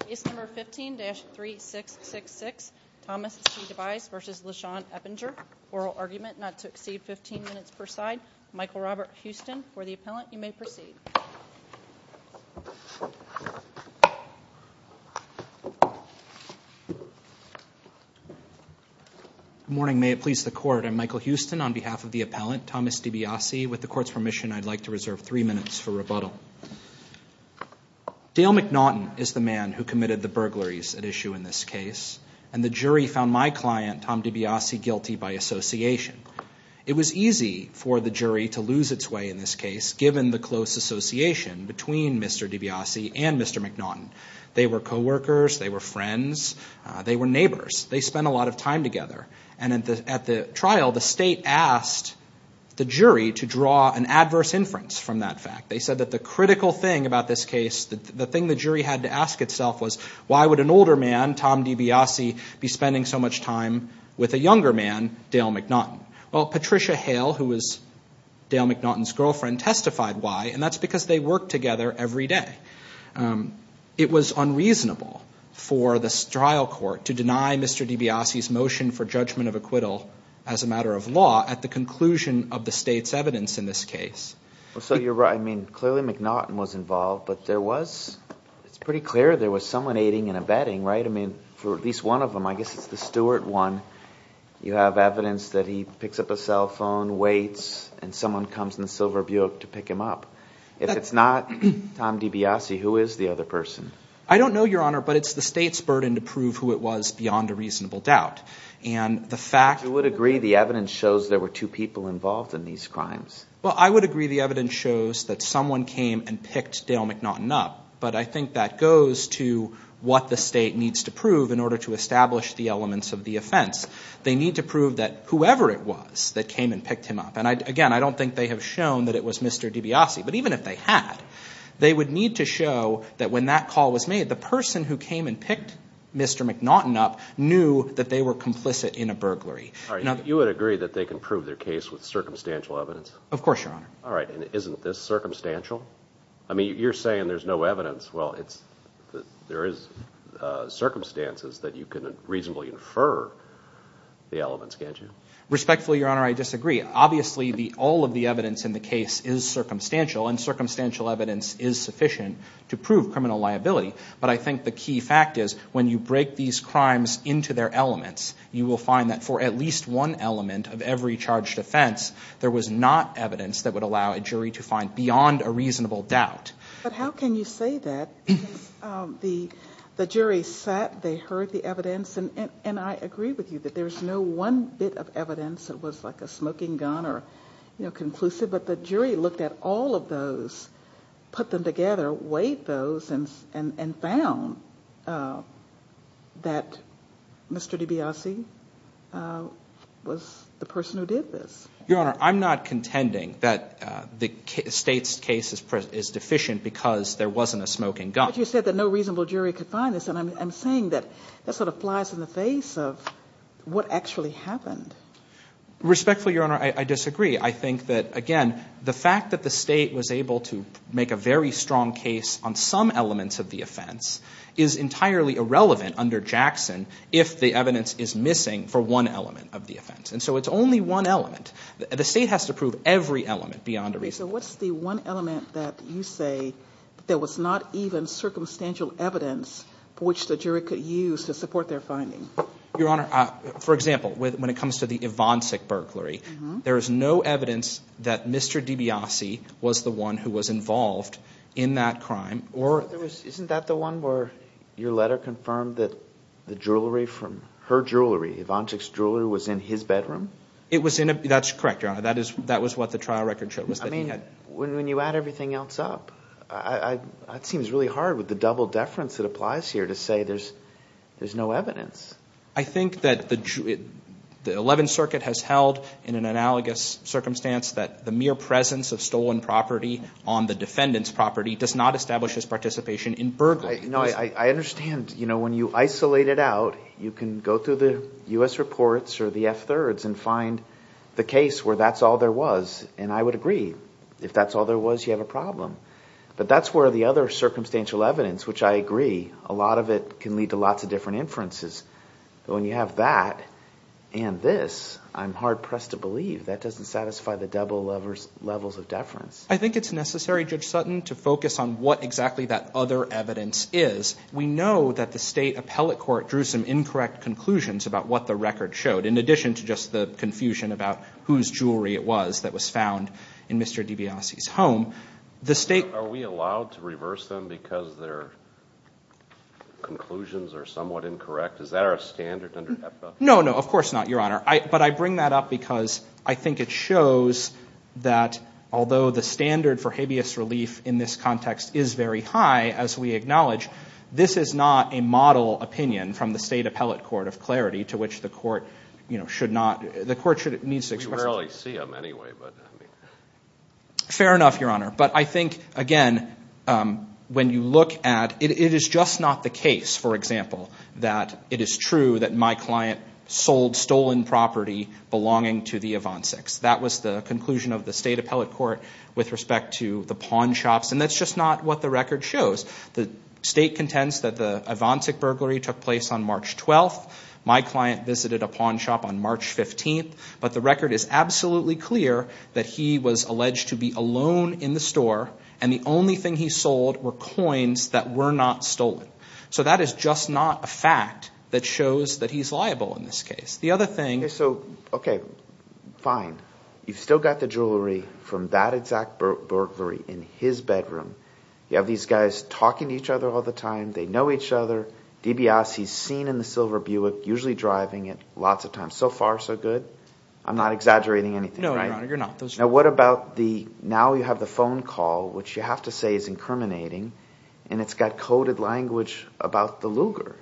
Case number 15-3666, Thomas C. DiBiase v. LaShann Eppinger. Oral argument not to exceed 15 minutes per side. Michael Robert Houston for the appellant. You may proceed. Good morning. May it please the Court. I'm Michael Houston on behalf of the appellant, Thomas DiBiase. With the Court's permission, I'd like to reserve three minutes for rebuttal. Dale McNaughton is the man who committed the burglaries at issue in this case. And the jury found my client, Tom DiBiase, guilty by association. It was easy for the jury to lose its way in this case, given the close association between Mr. DiBiase and Mr. McNaughton. They were co-workers. They were friends. They were neighbors. They spent a lot of time together. And at the trial, the State asked the jury to draw an adverse inference from that fact. They said that the critical thing about this case, the thing the jury had to ask itself was, why would an older man, Tom DiBiase, be spending so much time with a younger man, Dale McNaughton? Well, Patricia Hale, who was Dale McNaughton's girlfriend, testified why. And that's because they worked together every day. It was unreasonable for the trial court to deny Mr. DiBiase's motion for judgment of acquittal as a matter of law at the conclusion of the State's evidence in this case. So you're right. I mean, clearly McNaughton was involved, but there was – it's pretty clear there was someone aiding and abetting, right? I mean, for at least one of them, I guess it's the Stewart one, you have evidence that he picks up a cell phone, waits, and someone comes in the silver Buick to pick him up. If it's not Tom DiBiase, who is the other person? I don't know, Your Honor, but it's the State's burden to prove who it was beyond a reasonable doubt. And the fact – But you would agree the evidence shows there were two people involved in these crimes? Well, I would agree the evidence shows that someone came and picked Dale McNaughton up, but I think that goes to what the State needs to prove in order to establish the elements of the offense. They need to prove that whoever it was that came and picked him up – and again, I don't think they have shown that it was Mr. DiBiase, but even if they had, they would need to show that when that call was made, the person who came and picked Mr. McNaughton up knew that they were complicit in a burglary. All right. You would agree that they can prove their case with circumstantial evidence? Of course, Your Honor. All right. And isn't this circumstantial? I mean, you're saying there's no evidence. Well, there is circumstances that you can reasonably infer the elements, can't you? Respectfully, Your Honor, I disagree. Obviously, all of the evidence in the case is circumstantial, and circumstantial evidence is sufficient to prove criminal liability. But I think the key fact is when you break these crimes into their elements, you will find that for at least one element of every charged offense, there was not evidence that would allow a jury to find beyond a reasonable doubt. But how can you say that? Because the jury sat, they heard the evidence, and I agree with you that there's no one bit of evidence that was like a smoking gun or conclusive. But the jury looked at all of those, put them together, weighed those, and found that Mr. DiBiase was the person who did this. Your Honor, I'm not contending that the State's case is deficient because there wasn't a smoking gun. But you said that no reasonable jury could find this, and I'm saying that that sort of flies in the face of what actually happened. Respectfully, Your Honor, I disagree. I think that, again, the fact that the State was able to make a very strong case on some elements of the offense is entirely irrelevant under Jackson if the evidence is missing for one element of the offense. And so it's only one element. The State has to prove every element beyond a reasonable doubt. So what's the one element that you say there was not even circumstantial evidence for which the jury could use to support their finding? Your Honor, for example, when it comes to the Ivancic burglary, there is no evidence that Mr. DiBiase was the one who was involved in that crime. Isn't that the one where your letter confirmed that the jewelry from her jewelry, Ivancic's jewelry, was in his bedroom? That's correct, Your Honor. That was what the trial record showed was that he had. I mean, when you add everything else up, that seems really hard with the double deference that applies here to say there's no evidence. I think that the Eleventh Circuit has held in an analogous circumstance that the mere presence of stolen property on the defendant's property does not establish his participation in burglary. No, I understand. You know, when you isolate it out, you can go through the U.S. reports or the F-3rds and find the case where that's all there was, and I would agree. If that's all there was, you have a problem. But that's where the other circumstantial evidence, which I agree, a lot of it can lead to lots of different inferences. But when you have that and this, I'm hard-pressed to believe that doesn't satisfy the double levels of deference. I think it's necessary, Judge Sutton, to focus on what exactly that other evidence is. We know that the state appellate court drew some incorrect conclusions about what the record showed, in addition to just the confusion about whose jewelry it was that was found in Mr. DiBiase's home. Are we allowed to reverse them because their conclusions are somewhat incorrect? Is that our standard under HEPA? No, no, of course not, Your Honor. But I bring that up because I think it shows that, although the standard for habeas relief in this context is very high, as we acknowledge, this is not a model opinion from the state appellate court of clarity to which the court, you know, should not, the court needs to express its opinion. We rarely see them anyway. Fair enough, Your Honor. But I think, again, when you look at, it is just not the case, for example, that it is true that my client sold stolen property belonging to the Ivancics. That was the conclusion of the state appellate court with respect to the pawn shops. And that's just not what the record shows. The state contends that the Ivancic burglary took place on March 12th. My client visited a pawn shop on March 15th. But the record is absolutely clear that he was alleged to be alone in the store and the only thing he sold were coins that were not stolen. So that is just not a fact that shows that he's liable in this case. The other thing— Okay, so, okay, fine. You've still got the jewelry from that exact burglary in his bedroom. You have these guys talking to each other all the time. They know each other. DBS, he's seen in the silver Buick, usually driving it lots of times. So far, so good. I'm not exaggerating anything, right? No, Your Honor, you're not. Now what about the—now you have the phone call, which you have to say is incriminating, and it's got coded language about the Luger,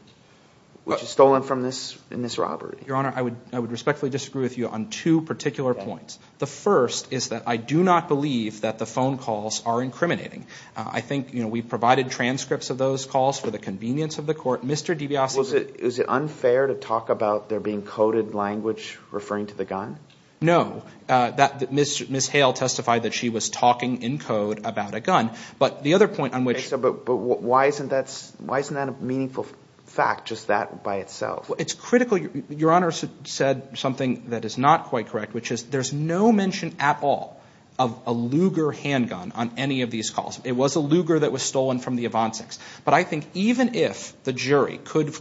which is stolen from this robbery. Your Honor, I would respectfully disagree with you on two particular points. The first is that I do not believe that the phone calls are incriminating. I think we provided transcripts of those calls for the convenience of the court. Mr. DBS— Well, is it unfair to talk about there being coded language referring to the gun? No. Ms. Hale testified that she was talking in code about a gun. But the other point on which— Okay, so, but why isn't that a meaningful fact, just that by itself? Well, it's critical—Your Honor said something that is not quite correct, which is there's no mention at all of a Luger handgun on any of these calls. It was a Luger that was stolen from the Avancics. But I think even if the jury could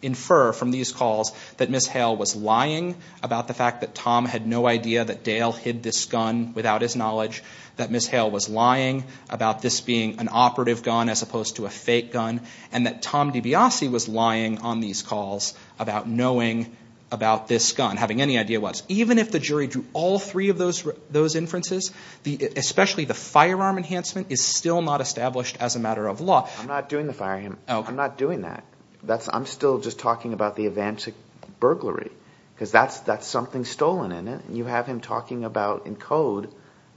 infer from these calls that Ms. Hale was lying about the fact that Tom had no idea that Dale hid this gun without his knowledge, that Ms. Hale was lying about this being an operative gun as opposed to a fake gun, and that Tom DiBiase was lying on these calls about knowing about this gun, having any idea what's— Even if the jury drew all three of those inferences, especially the firearm enhancement, is still not established as a matter of law. I'm not doing the firearm—I'm not doing that. I'm still just talking about the Avancic burglary because that's something stolen in it. You have him talking about, in code,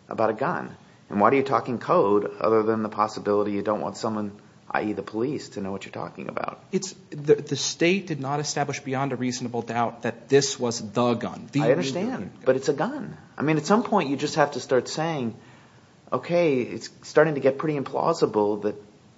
about a gun. And why do you talk in code other than the possibility you don't want someone, i.e. the police, to know what you're talking about? The state did not establish beyond a reasonable doubt that this was the gun. I understand, but it's a gun. I mean at some point you just have to start saying, okay, it's starting to get pretty implausible that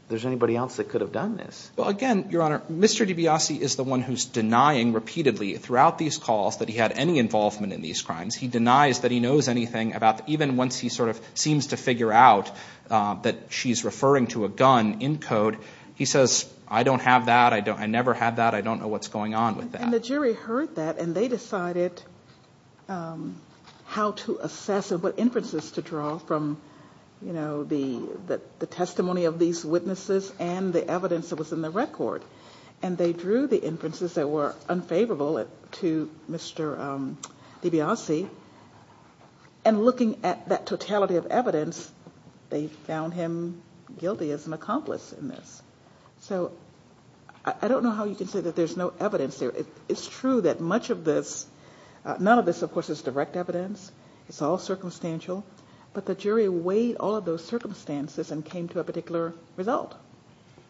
there's anybody else that could have done this. Well, again, Your Honor, Mr. DiBiase is the one who's denying repeatedly throughout these calls that he had any involvement in these crimes. He denies that he knows anything about—even once he sort of seems to figure out that she's referring to a gun in code. He says, I don't have that. I never had that. I don't know what's going on with that. And the jury heard that, and they decided how to assess it, what inferences to draw from the testimony of these witnesses and the evidence that was in the record. And they drew the inferences that were unfavorable to Mr. DiBiase. And looking at that totality of evidence, they found him guilty as an accomplice in this. So I don't know how you can say that there's no evidence there. It's true that much of this—none of this, of course, is direct evidence. It's all circumstantial. But the jury weighed all of those circumstances and came to a particular result.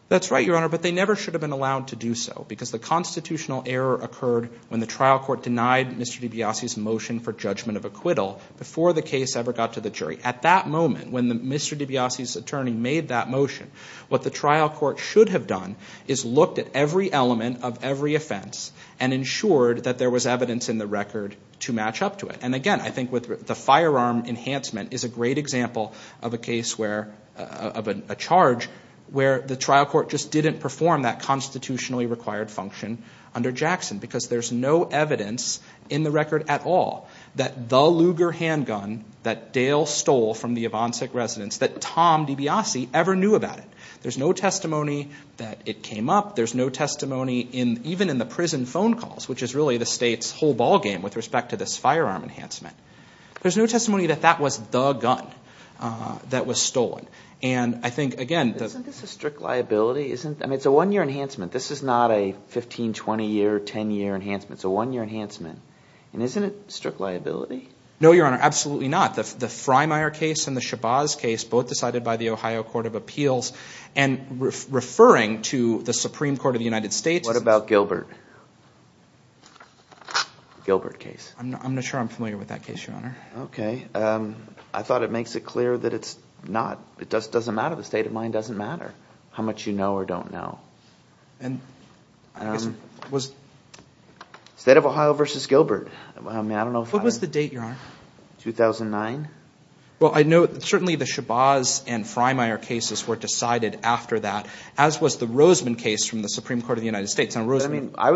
That's right, Your Honor, but they never should have been allowed to do so because the constitutional error occurred when the trial court denied Mr. DiBiase's motion for judgment of acquittal before the case ever got to the jury. At that moment, when Mr. DiBiase's attorney made that motion, what the trial court should have done is looked at every element of every offense and ensured that there was evidence in the record to match up to it. And again, I think the firearm enhancement is a great example of a case where—of a charge where the trial court just didn't perform that constitutionally required function under Jackson because there's no evidence in the record at all that the Luger handgun that Dale stole from the Yvonsek residence, that Tom DiBiase ever knew about it. There's no testimony that it came up. There's no testimony even in the prison phone calls, which is really the state's whole ballgame with respect to this firearm enhancement. There's no testimony that that was the gun that was stolen. And I think, again— Isn't this a strict liability? I mean, it's a one-year enhancement. This is not a 15-, 20-year, 10-year enhancement. It's a one-year enhancement. And isn't it strict liability? No, Your Honor, absolutely not. The Freymire case and the Shabazz case, both decided by the Ohio Court of Appeals, and referring to the Supreme Court of the United States— Gilbert case. I'm not sure I'm familiar with that case, Your Honor. Okay. I thought it makes it clear that it's not. It doesn't matter. The state of mind doesn't matter how much you know or don't know. And I guess it was— State of Ohio v. Gilbert. I mean, I don't know if I— What was the date, Your Honor? 2009. Well, I know certainly the Shabazz and Freymire cases were decided after that, as was the Roseman case from the Supreme Court of the United States. I mean, I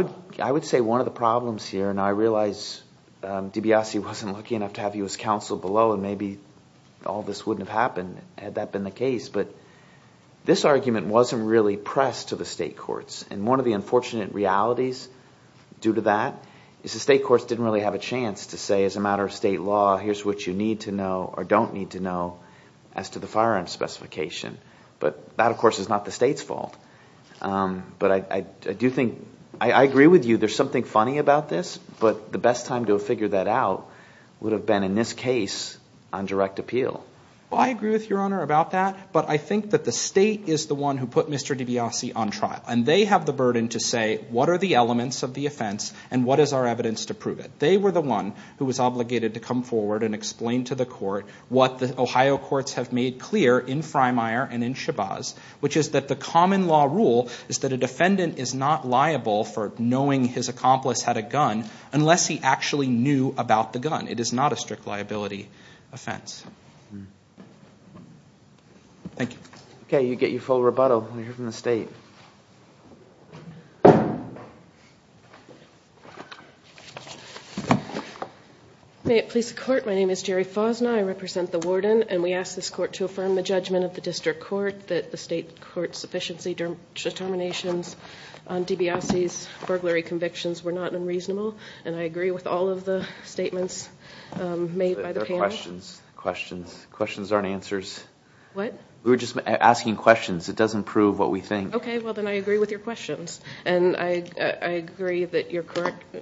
would say one of the problems here— and I realize DiBiase wasn't lucky enough to have you as counsel below, and maybe all this wouldn't have happened had that been the case— but this argument wasn't really pressed to the state courts. And one of the unfortunate realities due to that is the state courts didn't really have a chance to say, as a matter of state law, here's what you need to know or don't need to know as to the firearm specification. But that, of course, is not the state's fault. But I do think—I agree with you. There's something funny about this. But the best time to have figured that out would have been, in this case, on direct appeal. Well, I agree with Your Honor about that. But I think that the state is the one who put Mr. DiBiase on trial. And they have the burden to say what are the elements of the offense and what is our evidence to prove it. They were the one who was obligated to come forward and explain to the court what the Ohio courts have made clear in Freymire and in Shabazz, which is that the common law rule is that a defendant is not liable for knowing his accomplice had a gun unless he actually knew about the gun. It is not a strict liability offense. Thank you. Okay. You get your full rebuttal. We'll hear from the state. May it please the Court. My name is Jerry Fosna. I represent the warden. And we ask this court to affirm the judgment of the district court that the state court's sufficiency determinations on DiBiase's burglary convictions were not unreasonable. And I agree with all of the statements made by the panel. There are questions. Questions. Questions aren't answers. What? We were just asking questions. It doesn't prove what we think. Okay. Well, then I agree with your questions. And I agree that your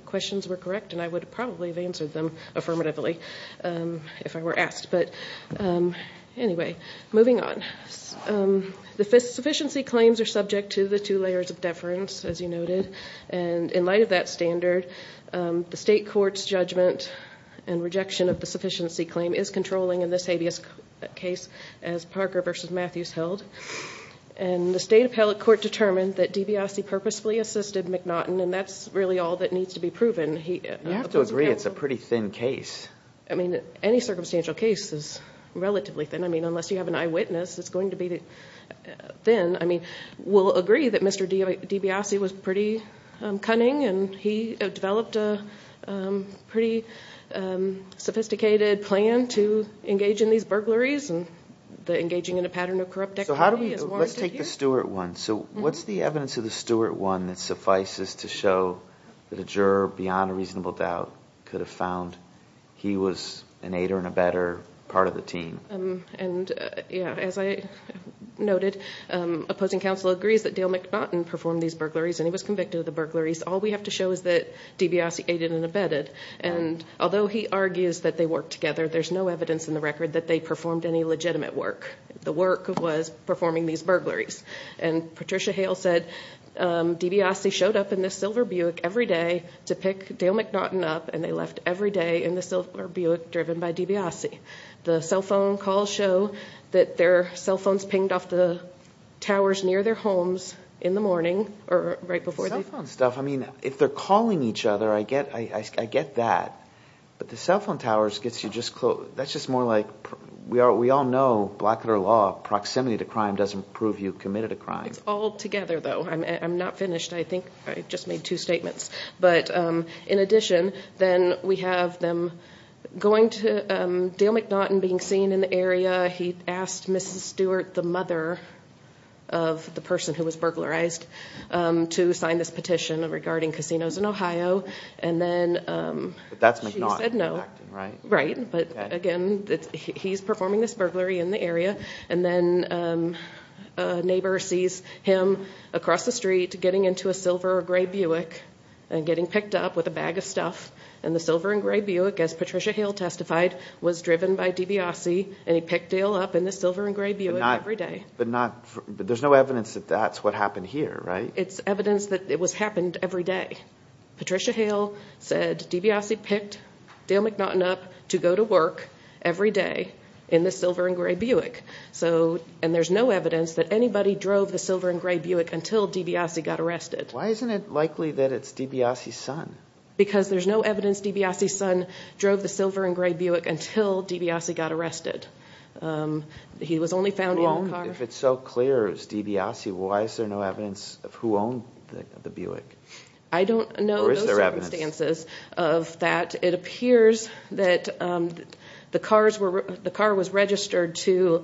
questions were correct. And I would probably have answered them affirmatively if I were asked. But anyway, moving on. The sufficiency claims are subject to the two layers of deference, as you noted. And in light of that standard, the state court's judgment and rejection of the sufficiency claim is controlling in this habeas case as Parker v. Matthews held. And the state appellate court determined that DiBiase purposefully assisted McNaughton, and that's really all that needs to be proven. You have to agree it's a pretty thin case. I mean, any circumstantial case is relatively thin. I mean, unless you have an eyewitness, it's going to be thin. I mean, we'll agree that Mr. DiBiase was pretty cunning, and he developed a pretty sophisticated plan to engage in these burglaries, and the engaging in a pattern of corrupt activity is warranted here. Let's take the Stewart one. So what's the evidence of the Stewart one that suffices to show that a juror, beyond a reasonable doubt, could have found he was an aider and abetter part of the team? And, yeah, as I noted, opposing counsel agrees that Dale McNaughton performed these burglaries, and he was convicted of the burglaries. All we have to show is that DiBiase aided and abetted. And although he argues that they worked together, there's no evidence in the record that they performed any legitimate work. The work was performing these burglaries. And Patricia Hale said, DiBiase showed up in this silver Buick every day to pick Dale McNaughton up, and they left every day in the silver Buick driven by DiBiase. The cell phone calls show that their cell phones pinged off the towers near their homes in the morning, or right before. Cell phone stuff. I mean, if they're calling each other, I get that. But the cell phone towers gets you just close. That's just more like, we all know, blackletter law, proximity to crime doesn't prove you committed a crime. It's all together, though. I'm not finished. I think I just made two statements. But in addition, then we have them going to Dale McNaughton being seen in the area. He asked Mrs. Stewart, the mother of the person who was burglarized, to sign this petition regarding casinos in Ohio. And then she said no. But that's McNaughton acting, right? Right. But again, he's performing this burglary in the area. And then a neighbor sees him across the street getting into a silver or gray Buick and getting picked up with a bag of stuff. And the silver and gray Buick, as Patricia Hale testified, was driven by DiBiase, and he picked Dale up in the silver and gray Buick every day. But there's no evidence that that's what happened here, right? It's evidence that it happened every day. Patricia Hale said DiBiase picked Dale McNaughton up to go to work every day in the silver and gray Buick. And there's no evidence that anybody drove the silver and gray Buick until DiBiase got arrested. Why isn't it likely that it's DiBiase's son? Because there's no evidence DiBiase's son drove the silver and gray Buick until DiBiase got arrested. He was only found in a car. If it's so clear it's DiBiase, why is there no evidence of who owned the Buick? I don't know the circumstances of that. It appears that the car was registered to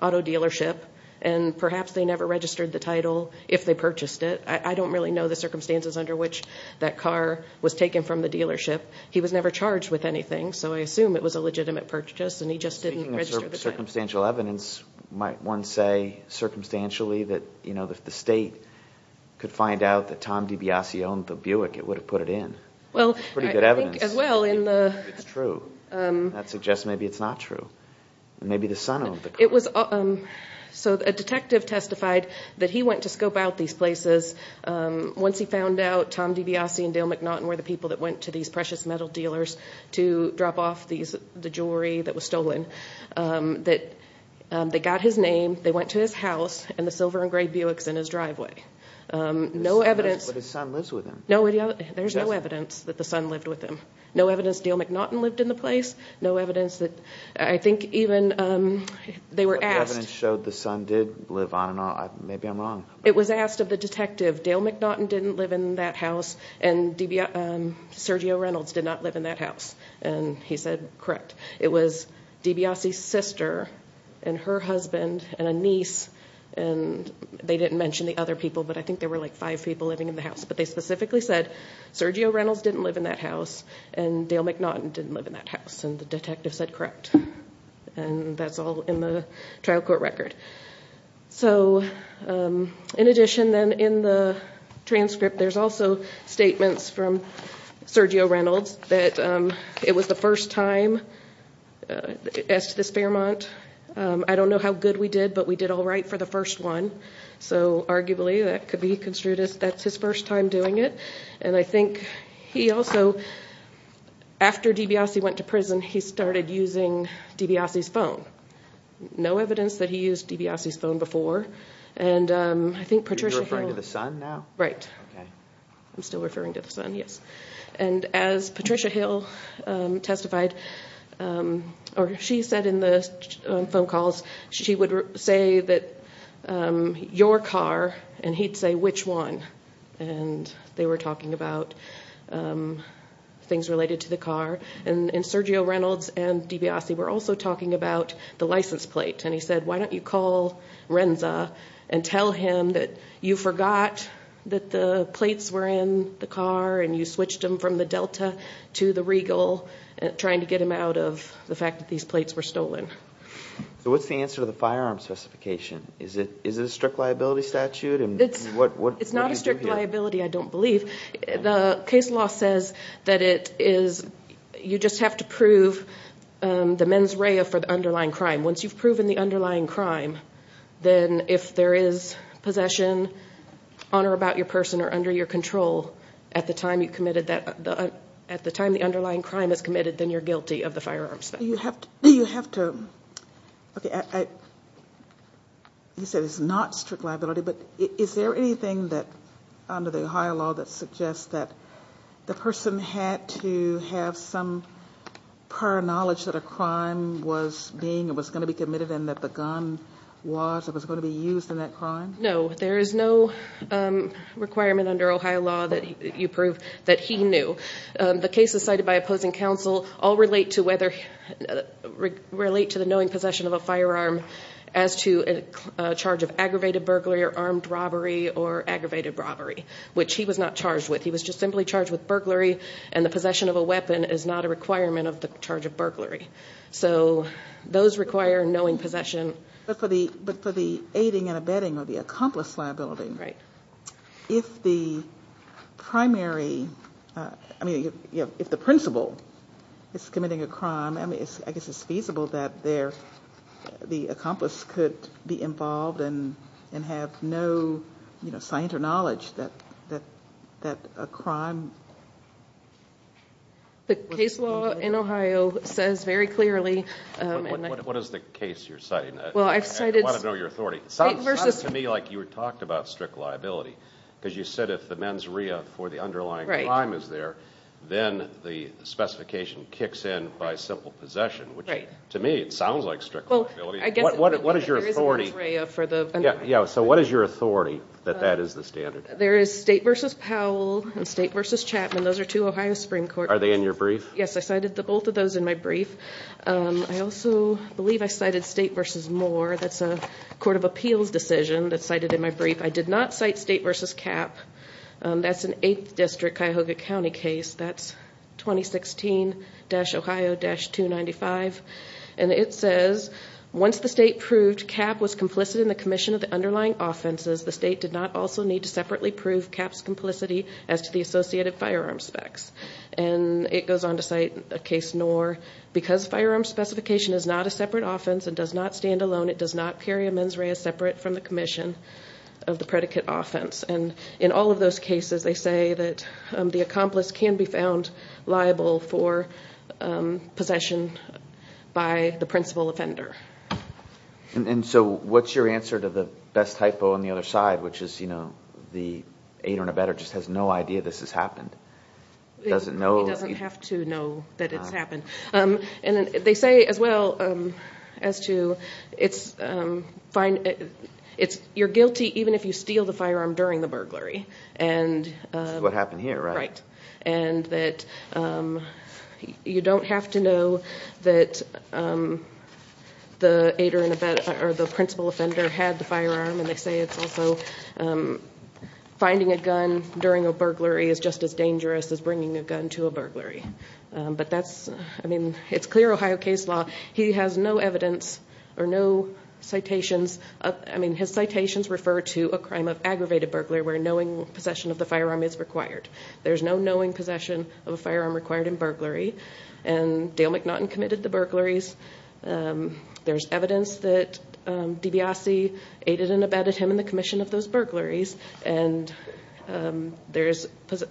auto dealership, and perhaps they never registered the title if they purchased it. I don't really know the circumstances under which that car was taken from the dealership. He was never charged with anything, so I assume it was a legitimate purchase, and he just didn't register the title. If there's circumstantial evidence, might one say, circumstantially, that if the state could find out that Tom DiBiase owned the Buick, it would have put it in? That's pretty good evidence. Well, I think as well in the... It's true. That suggests maybe it's not true. Maybe the son owned the car. So a detective testified that he went to scope out these places. Once he found out Tom DiBiase and Dale McNaughton were the people that went to these precious metal dealers to drop off the jewelry that was stolen, that they got his name, they went to his house, and the silver and gray Buick's in his driveway. No evidence... But his son lives with him. There's no evidence that the son lived with him. No evidence Dale McNaughton lived in the place. No evidence that... I think even they were asked... The evidence showed the son did live on and on. Maybe I'm wrong. It was asked of the detective, Dale McNaughton didn't live in that house and Sergio Reynolds did not live in that house. And he said, correct. It was DiBiase's sister and her husband and a niece. And they didn't mention the other people, but I think there were like five people living in the house. But they specifically said, Sergio Reynolds didn't live in that house and Dale McNaughton didn't live in that house. And the detective said, correct. And that's all in the trial court record. So, in addition, then, in the transcript, there's also statements from Sergio Reynolds that it was the first time as to this Fairmont. I don't know how good we did, but we did all right for the first one. So, arguably, that could be construed as that's his first time doing it. And I think he also... After DiBiase went to prison, he started using DiBiase's phone. No evidence that he used DiBiase's phone before. And I think Patricia Hill... You're referring to the son now? Right. Okay. I'm still referring to the son, yes. And as Patricia Hill testified, or she said in the phone calls, she would say that, your car, and he'd say, which one? And they were talking about things related to the car. And Sergio Reynolds and DiBiase were also talking about the license plate. And he said, why don't you call Renza and tell him that you forgot that the plates were in the car, and you switched them from the Delta to the Regal, trying to get him out of the fact that these plates were stolen. So what's the answer to the firearm specification? Is it a strict liability statute? It's not a strict liability, I don't believe. The case law says that it is, you just have to prove the mens rea for the underlying crime. Once you've proven the underlying crime, then if there is possession on or about your person or under your control, at the time you committed that, at the time the underlying crime is committed, then you're guilty of the firearms. You have to, okay, you said it's not strict liability, but is there anything under the Ohio law that suggests that the person had to have some prior knowledge that a crime was being, was going to be committed and that the gun was, was going to be used in that crime? No, there is no requirement under Ohio law that you prove that he knew. The cases cited by opposing counsel all relate to whether, relate to the knowing possession of a firearm as to a charge of aggravated burglary or armed robbery or aggravated robbery, which he was not charged with. He was just simply charged with burglary, and the possession of a weapon is not a requirement of the charge of burglary. So those require knowing possession. But for the aiding and abetting or the accomplice liability, if the primary, I mean, if the principal is committing a crime, I mean, I guess it's feasible that the accomplice could be involved and have no, you know, science or knowledge that a crime was being committed. The case law in Ohio says very clearly. What is the case you're citing? I want to know your authority. It sounds to me like you talked about strict liability because you said if the mens rea for the underlying crime is there, then the specification kicks in by simple possession, which to me, it sounds like strict liability. What is your authority? So what is your authority that that is the standard? There is State v. Powell and State v. Chapman. Those are two Ohio Supreme Courts. Are they in your brief? Yes, I cited both of those in my brief. I also believe I cited State v. Moore. That's a court of appeals decision that's cited in my brief. I did not cite State v. Capp. That's an 8th District Cuyahoga County case. That's 2016-Ohio-295. And it says, once the state proved Capp was complicit in the commission of the underlying offenses, the state did not also need to separately prove Capp's complicity as to the associated firearm specs. And it goes on to cite a case, Knorr. Because firearm specification is not a separate offense and does not stand alone, it does not carry a mens rea separate from the commission of the predicate offense. And in all of those cases, they say that the accomplice can be found liable for possession by the principal offender. And so what's your answer to the best typo on the other side, which is, you know, the aider and abettor just has no idea this has happened? He doesn't have to know that it's happened. And they say as well as to, you're guilty even if you steal the firearm during the burglary. Which is what happened here, right? Right. And that you don't have to know that the aider and abettor, or the principal offender, had the firearm. And they say it's also, finding a gun during a burglary is just as dangerous as bringing a gun to a burglary. But that's, I mean, it's clear Ohio case law. He has no evidence, or no citations, I mean, his citations refer to a crime of aggravated burglary where knowing possession of the firearm is required. There's no knowing possession of a firearm required in burglary. And Dale McNaughton committed the burglaries. There's evidence that DiBiase aided and abetted him in the commission of those burglaries. And there's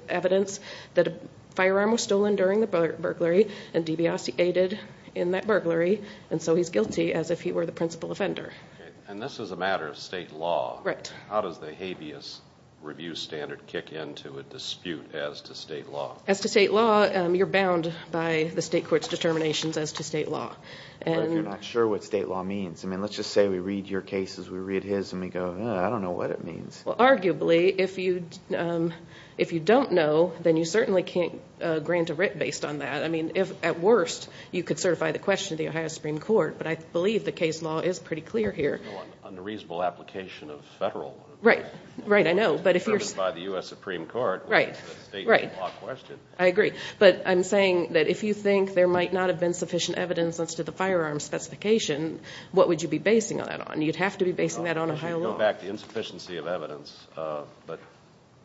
evidence that a firearm was stolen during the burglary and DiBiase aided in that burglary. And so he's guilty as if he were the principal offender. And this is a matter of state law. Right. How does the habeas review standard kick into a dispute as to state law? As to state law, you're bound by the state court's determinations as to state law. But you're not sure what state law means. I mean, let's just say we read your cases, we read his, and we go, I don't know what it means. Well, arguably, if you don't know, then you certainly can't grant a writ based on that. I mean, at worst, you could certify the question to the Ohio Supreme Court. But I believe the case law is pretty clear here. There's no unreasonable application of federal law. Right. Right, I know. It's determined by the U.S. Supreme Court. Right, right. It's a state law question. I agree. But I'm saying that if you think there might not have been sufficient evidence as to the firearm specification, what would you be basing that on? You'd have to be basing that on Ohio law. Well, I should go back to insufficiency of evidence. But,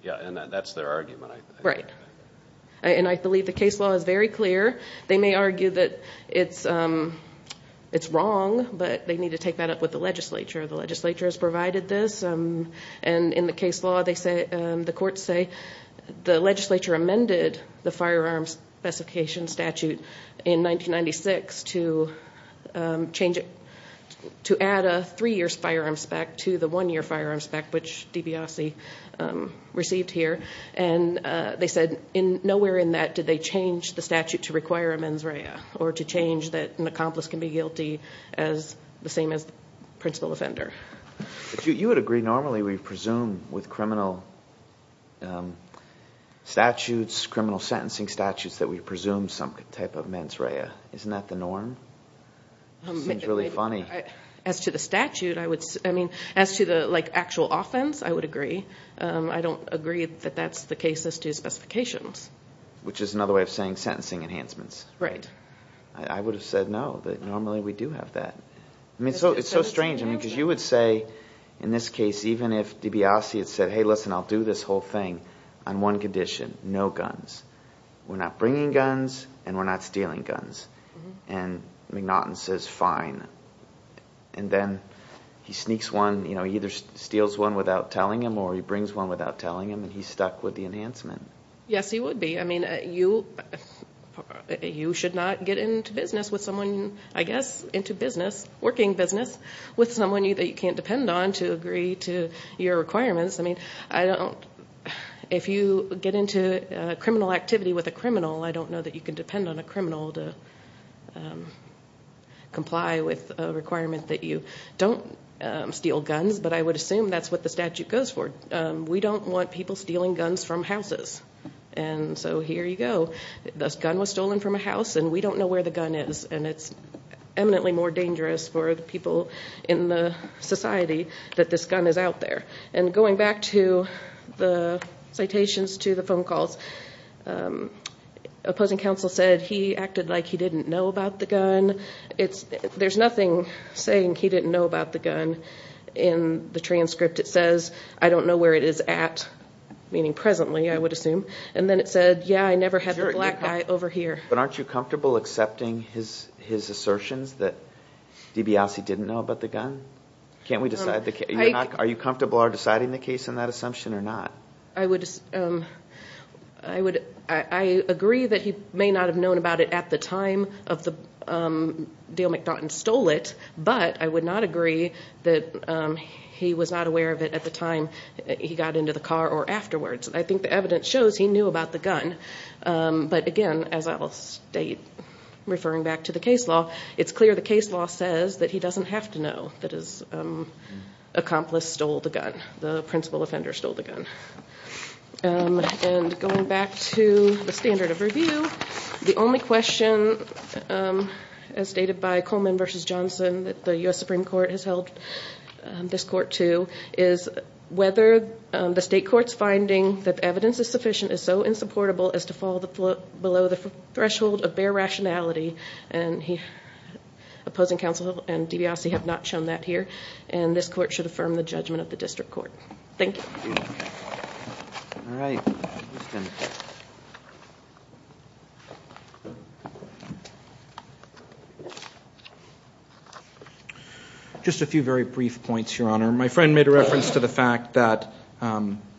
yeah, and that's their argument, I think. Right. And I believe the case law is very clear. They may argue that it's wrong, but they need to take that up with the legislature. The legislature has provided this. And in the case law, the courts say the legislature amended the firearms specification statute in 1996 to add a three-year firearm spec to the one-year firearm spec, which DiBiase received here. And they said nowhere in that did they change the statute to require amends rea, or to change that an accomplice can be guilty the same as the principal offender. You would agree normally we presume with criminal statutes, criminal sentencing statutes, that we presume some type of amends rea. Isn't that the norm? It seems really funny. As to the statute, I mean, as to the, like, actual offense, I would agree. I don't agree that that's the case as to specifications. Which is another way of saying sentencing enhancements. Right. I would have said no, that normally we do have that. I mean, it's so strange, because you would say in this case, even if DiBiase had said, hey, listen, I'll do this whole thing on one condition, no guns. We're not bringing guns and we're not stealing guns. And McNaughton says fine. And then he sneaks one, you know, he either steals one without telling him or he brings one without telling him and he's stuck with the enhancement. Yes, he would be. I mean, you should not get into business with someone, I guess, into business, working business with someone that you can't depend on to agree to your requirements. I mean, I don't, if you get into criminal activity with a criminal, I don't know that you can depend on a criminal to comply with a requirement that you don't steal guns. But I would assume that's what the statute goes for. We don't want people stealing guns from houses. And so here you go. This gun was stolen from a house and we don't know where the gun is. And it's eminently more dangerous for the people in the society that this gun is out there. And going back to the citations to the phone calls, opposing counsel said he acted like he didn't know about the gun. There's nothing saying he didn't know about the gun in the transcript. It says, I don't know where it is at, meaning presently, I would assume. And then it said, yeah, I never had the black guy over here. But aren't you comfortable accepting his assertions that DiBiase didn't know about the gun? Can't we decide the case? Are you comfortable deciding the case on that assumption or not? I agree that he may not have known about it at the time that Dale MacDonald stole it, but I would not agree that he was not aware of it at the time he got into the car or afterwards. I think the evidence shows he knew about the gun. But, again, as I will state, referring back to the case law, it's clear the case law says that he doesn't have to know that his accomplice stole the gun, the principal offender stole the gun. And going back to the standard of review, the only question, as stated by Coleman v. Johnson, that the U.S. Supreme Court has held this court to is whether the state court's finding that evidence is sufficient is so insupportable as to fall below the threshold of bare rationality. And opposing counsel and DiBiase have not shown that here. And this court should affirm the judgment of the district court. Thank you. Just a few very brief points, Your Honor. My friend made a reference to the fact that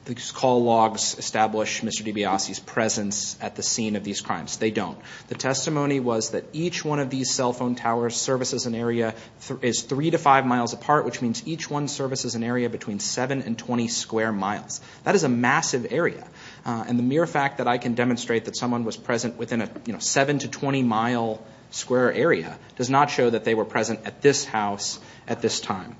these call logs establish Mr. DiBiase's presence at the scene of these crimes. They don't. The testimony was that each one of these cell phone towers services an area that is three to five miles apart, which means each one services an area between seven and 20 square miles. That is a massive area. And the mere fact that I can demonstrate that someone was present within a seven to 20-mile square area does not show that they were present at this house at this time.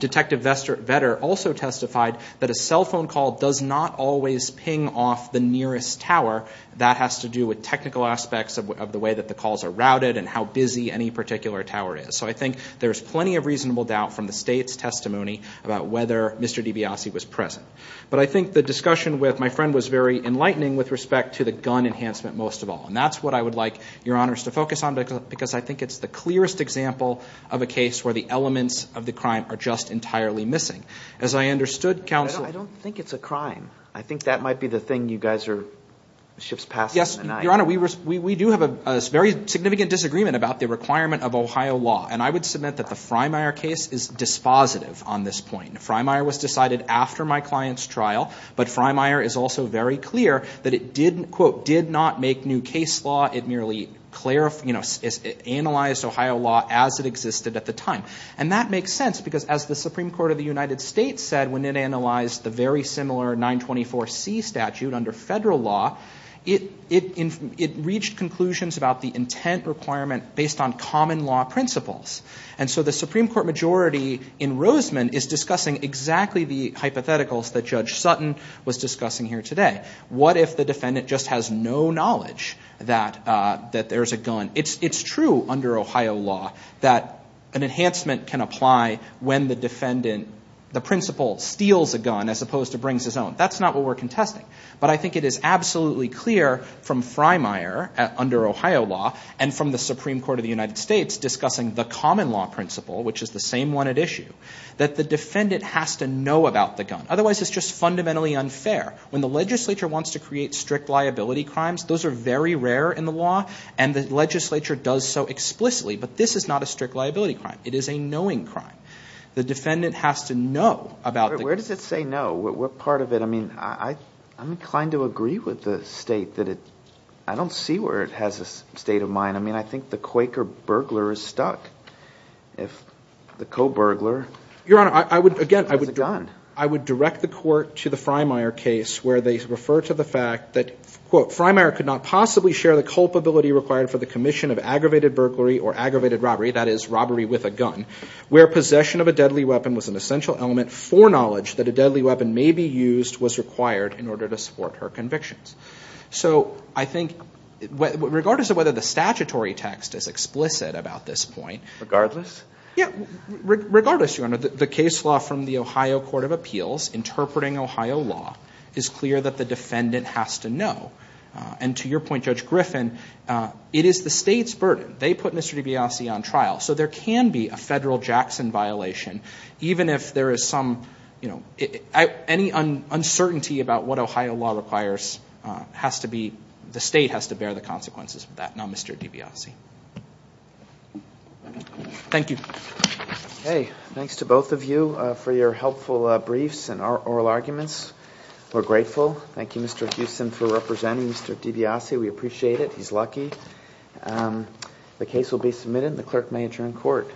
Detective Vetter also testified that a cell phone call does not always ping off the nearest tower. That has to do with technical aspects of the way that the calls are routed and how busy any particular tower is. So I think there's plenty of reasonable doubt from the state's testimony about whether Mr. DiBiase was present. But I think the discussion with my friend was very enlightening with respect to the gun enhancement most of all. And that's what I would like Your Honors to focus on, because I think it's the clearest example of a case where the elements of the crime are just entirely missing. As I understood, counsel— I don't think it's a crime. I think that might be the thing you guys are—ships past in the night. Your Honor, we do have a very significant disagreement about the requirement of Ohio law. And I would submit that the Freymire case is dispositive on this point. Freymire was decided after my client's trial. But Freymire is also very clear that it didn't, quote, did not make new case law. It merely analyzed Ohio law as it existed at the time. And that makes sense, because as the Supreme Court of the United States said when it analyzed the very similar 924C statute under federal law, it reached conclusions about the intent requirement based on common law principles. And so the Supreme Court majority in Roseman is discussing exactly the hypotheticals that Judge Sutton was discussing here today. What if the defendant just has no knowledge that there's a gun? It's true under Ohio law that an enhancement can apply when the defendant— the principal steals a gun as opposed to brings his own. That's not what we're contesting. But I think it is absolutely clear from Freymire under Ohio law and from the Supreme Court of the United States discussing the common law principle, which is the same one at issue, that the defendant has to know about the gun. Otherwise, it's just fundamentally unfair. When the legislature wants to create strict liability crimes, those are very rare in the law. And the legislature does so explicitly. But this is not a strict liability crime. It is a knowing crime. The defendant has to know about the— Where does it say no? What part of it—I mean, I'm inclined to agree with the state that it—I don't see where it has a state of mind. I mean, I think the Quaker burglar is stuck. If the co-burglar has a gun— Your Honor, I would—again, I would direct the court to the Freymire case where they refer to the fact that, quote, Freymire could not possibly share the culpability required for the commission of aggravated burglary or aggravated robbery, that is, robbery with a gun, where possession of a deadly weapon was an essential element for knowledge that a deadly weapon may be used was required in order to support her convictions. So I think regardless of whether the statutory text is explicit about this point— Regardless? Yeah, regardless, Your Honor. The case law from the Ohio Court of Appeals interpreting Ohio law is clear that the defendant has to know. And to your point, Judge Griffin, it is the state's burden. They put Mr. DiBiase on trial. So there can be a federal Jackson violation, even if there is some— Any uncertainty about what Ohio law requires has to be—the state has to bear the consequences of that, not Mr. DiBiase. Thank you. Okay, thanks to both of you for your helpful briefs and oral arguments. We're grateful. Thank you, Mr. Houston, for representing Mr. DiBiase. We appreciate it. He's lucky. The case will be submitted, and the clerk may adjourn court.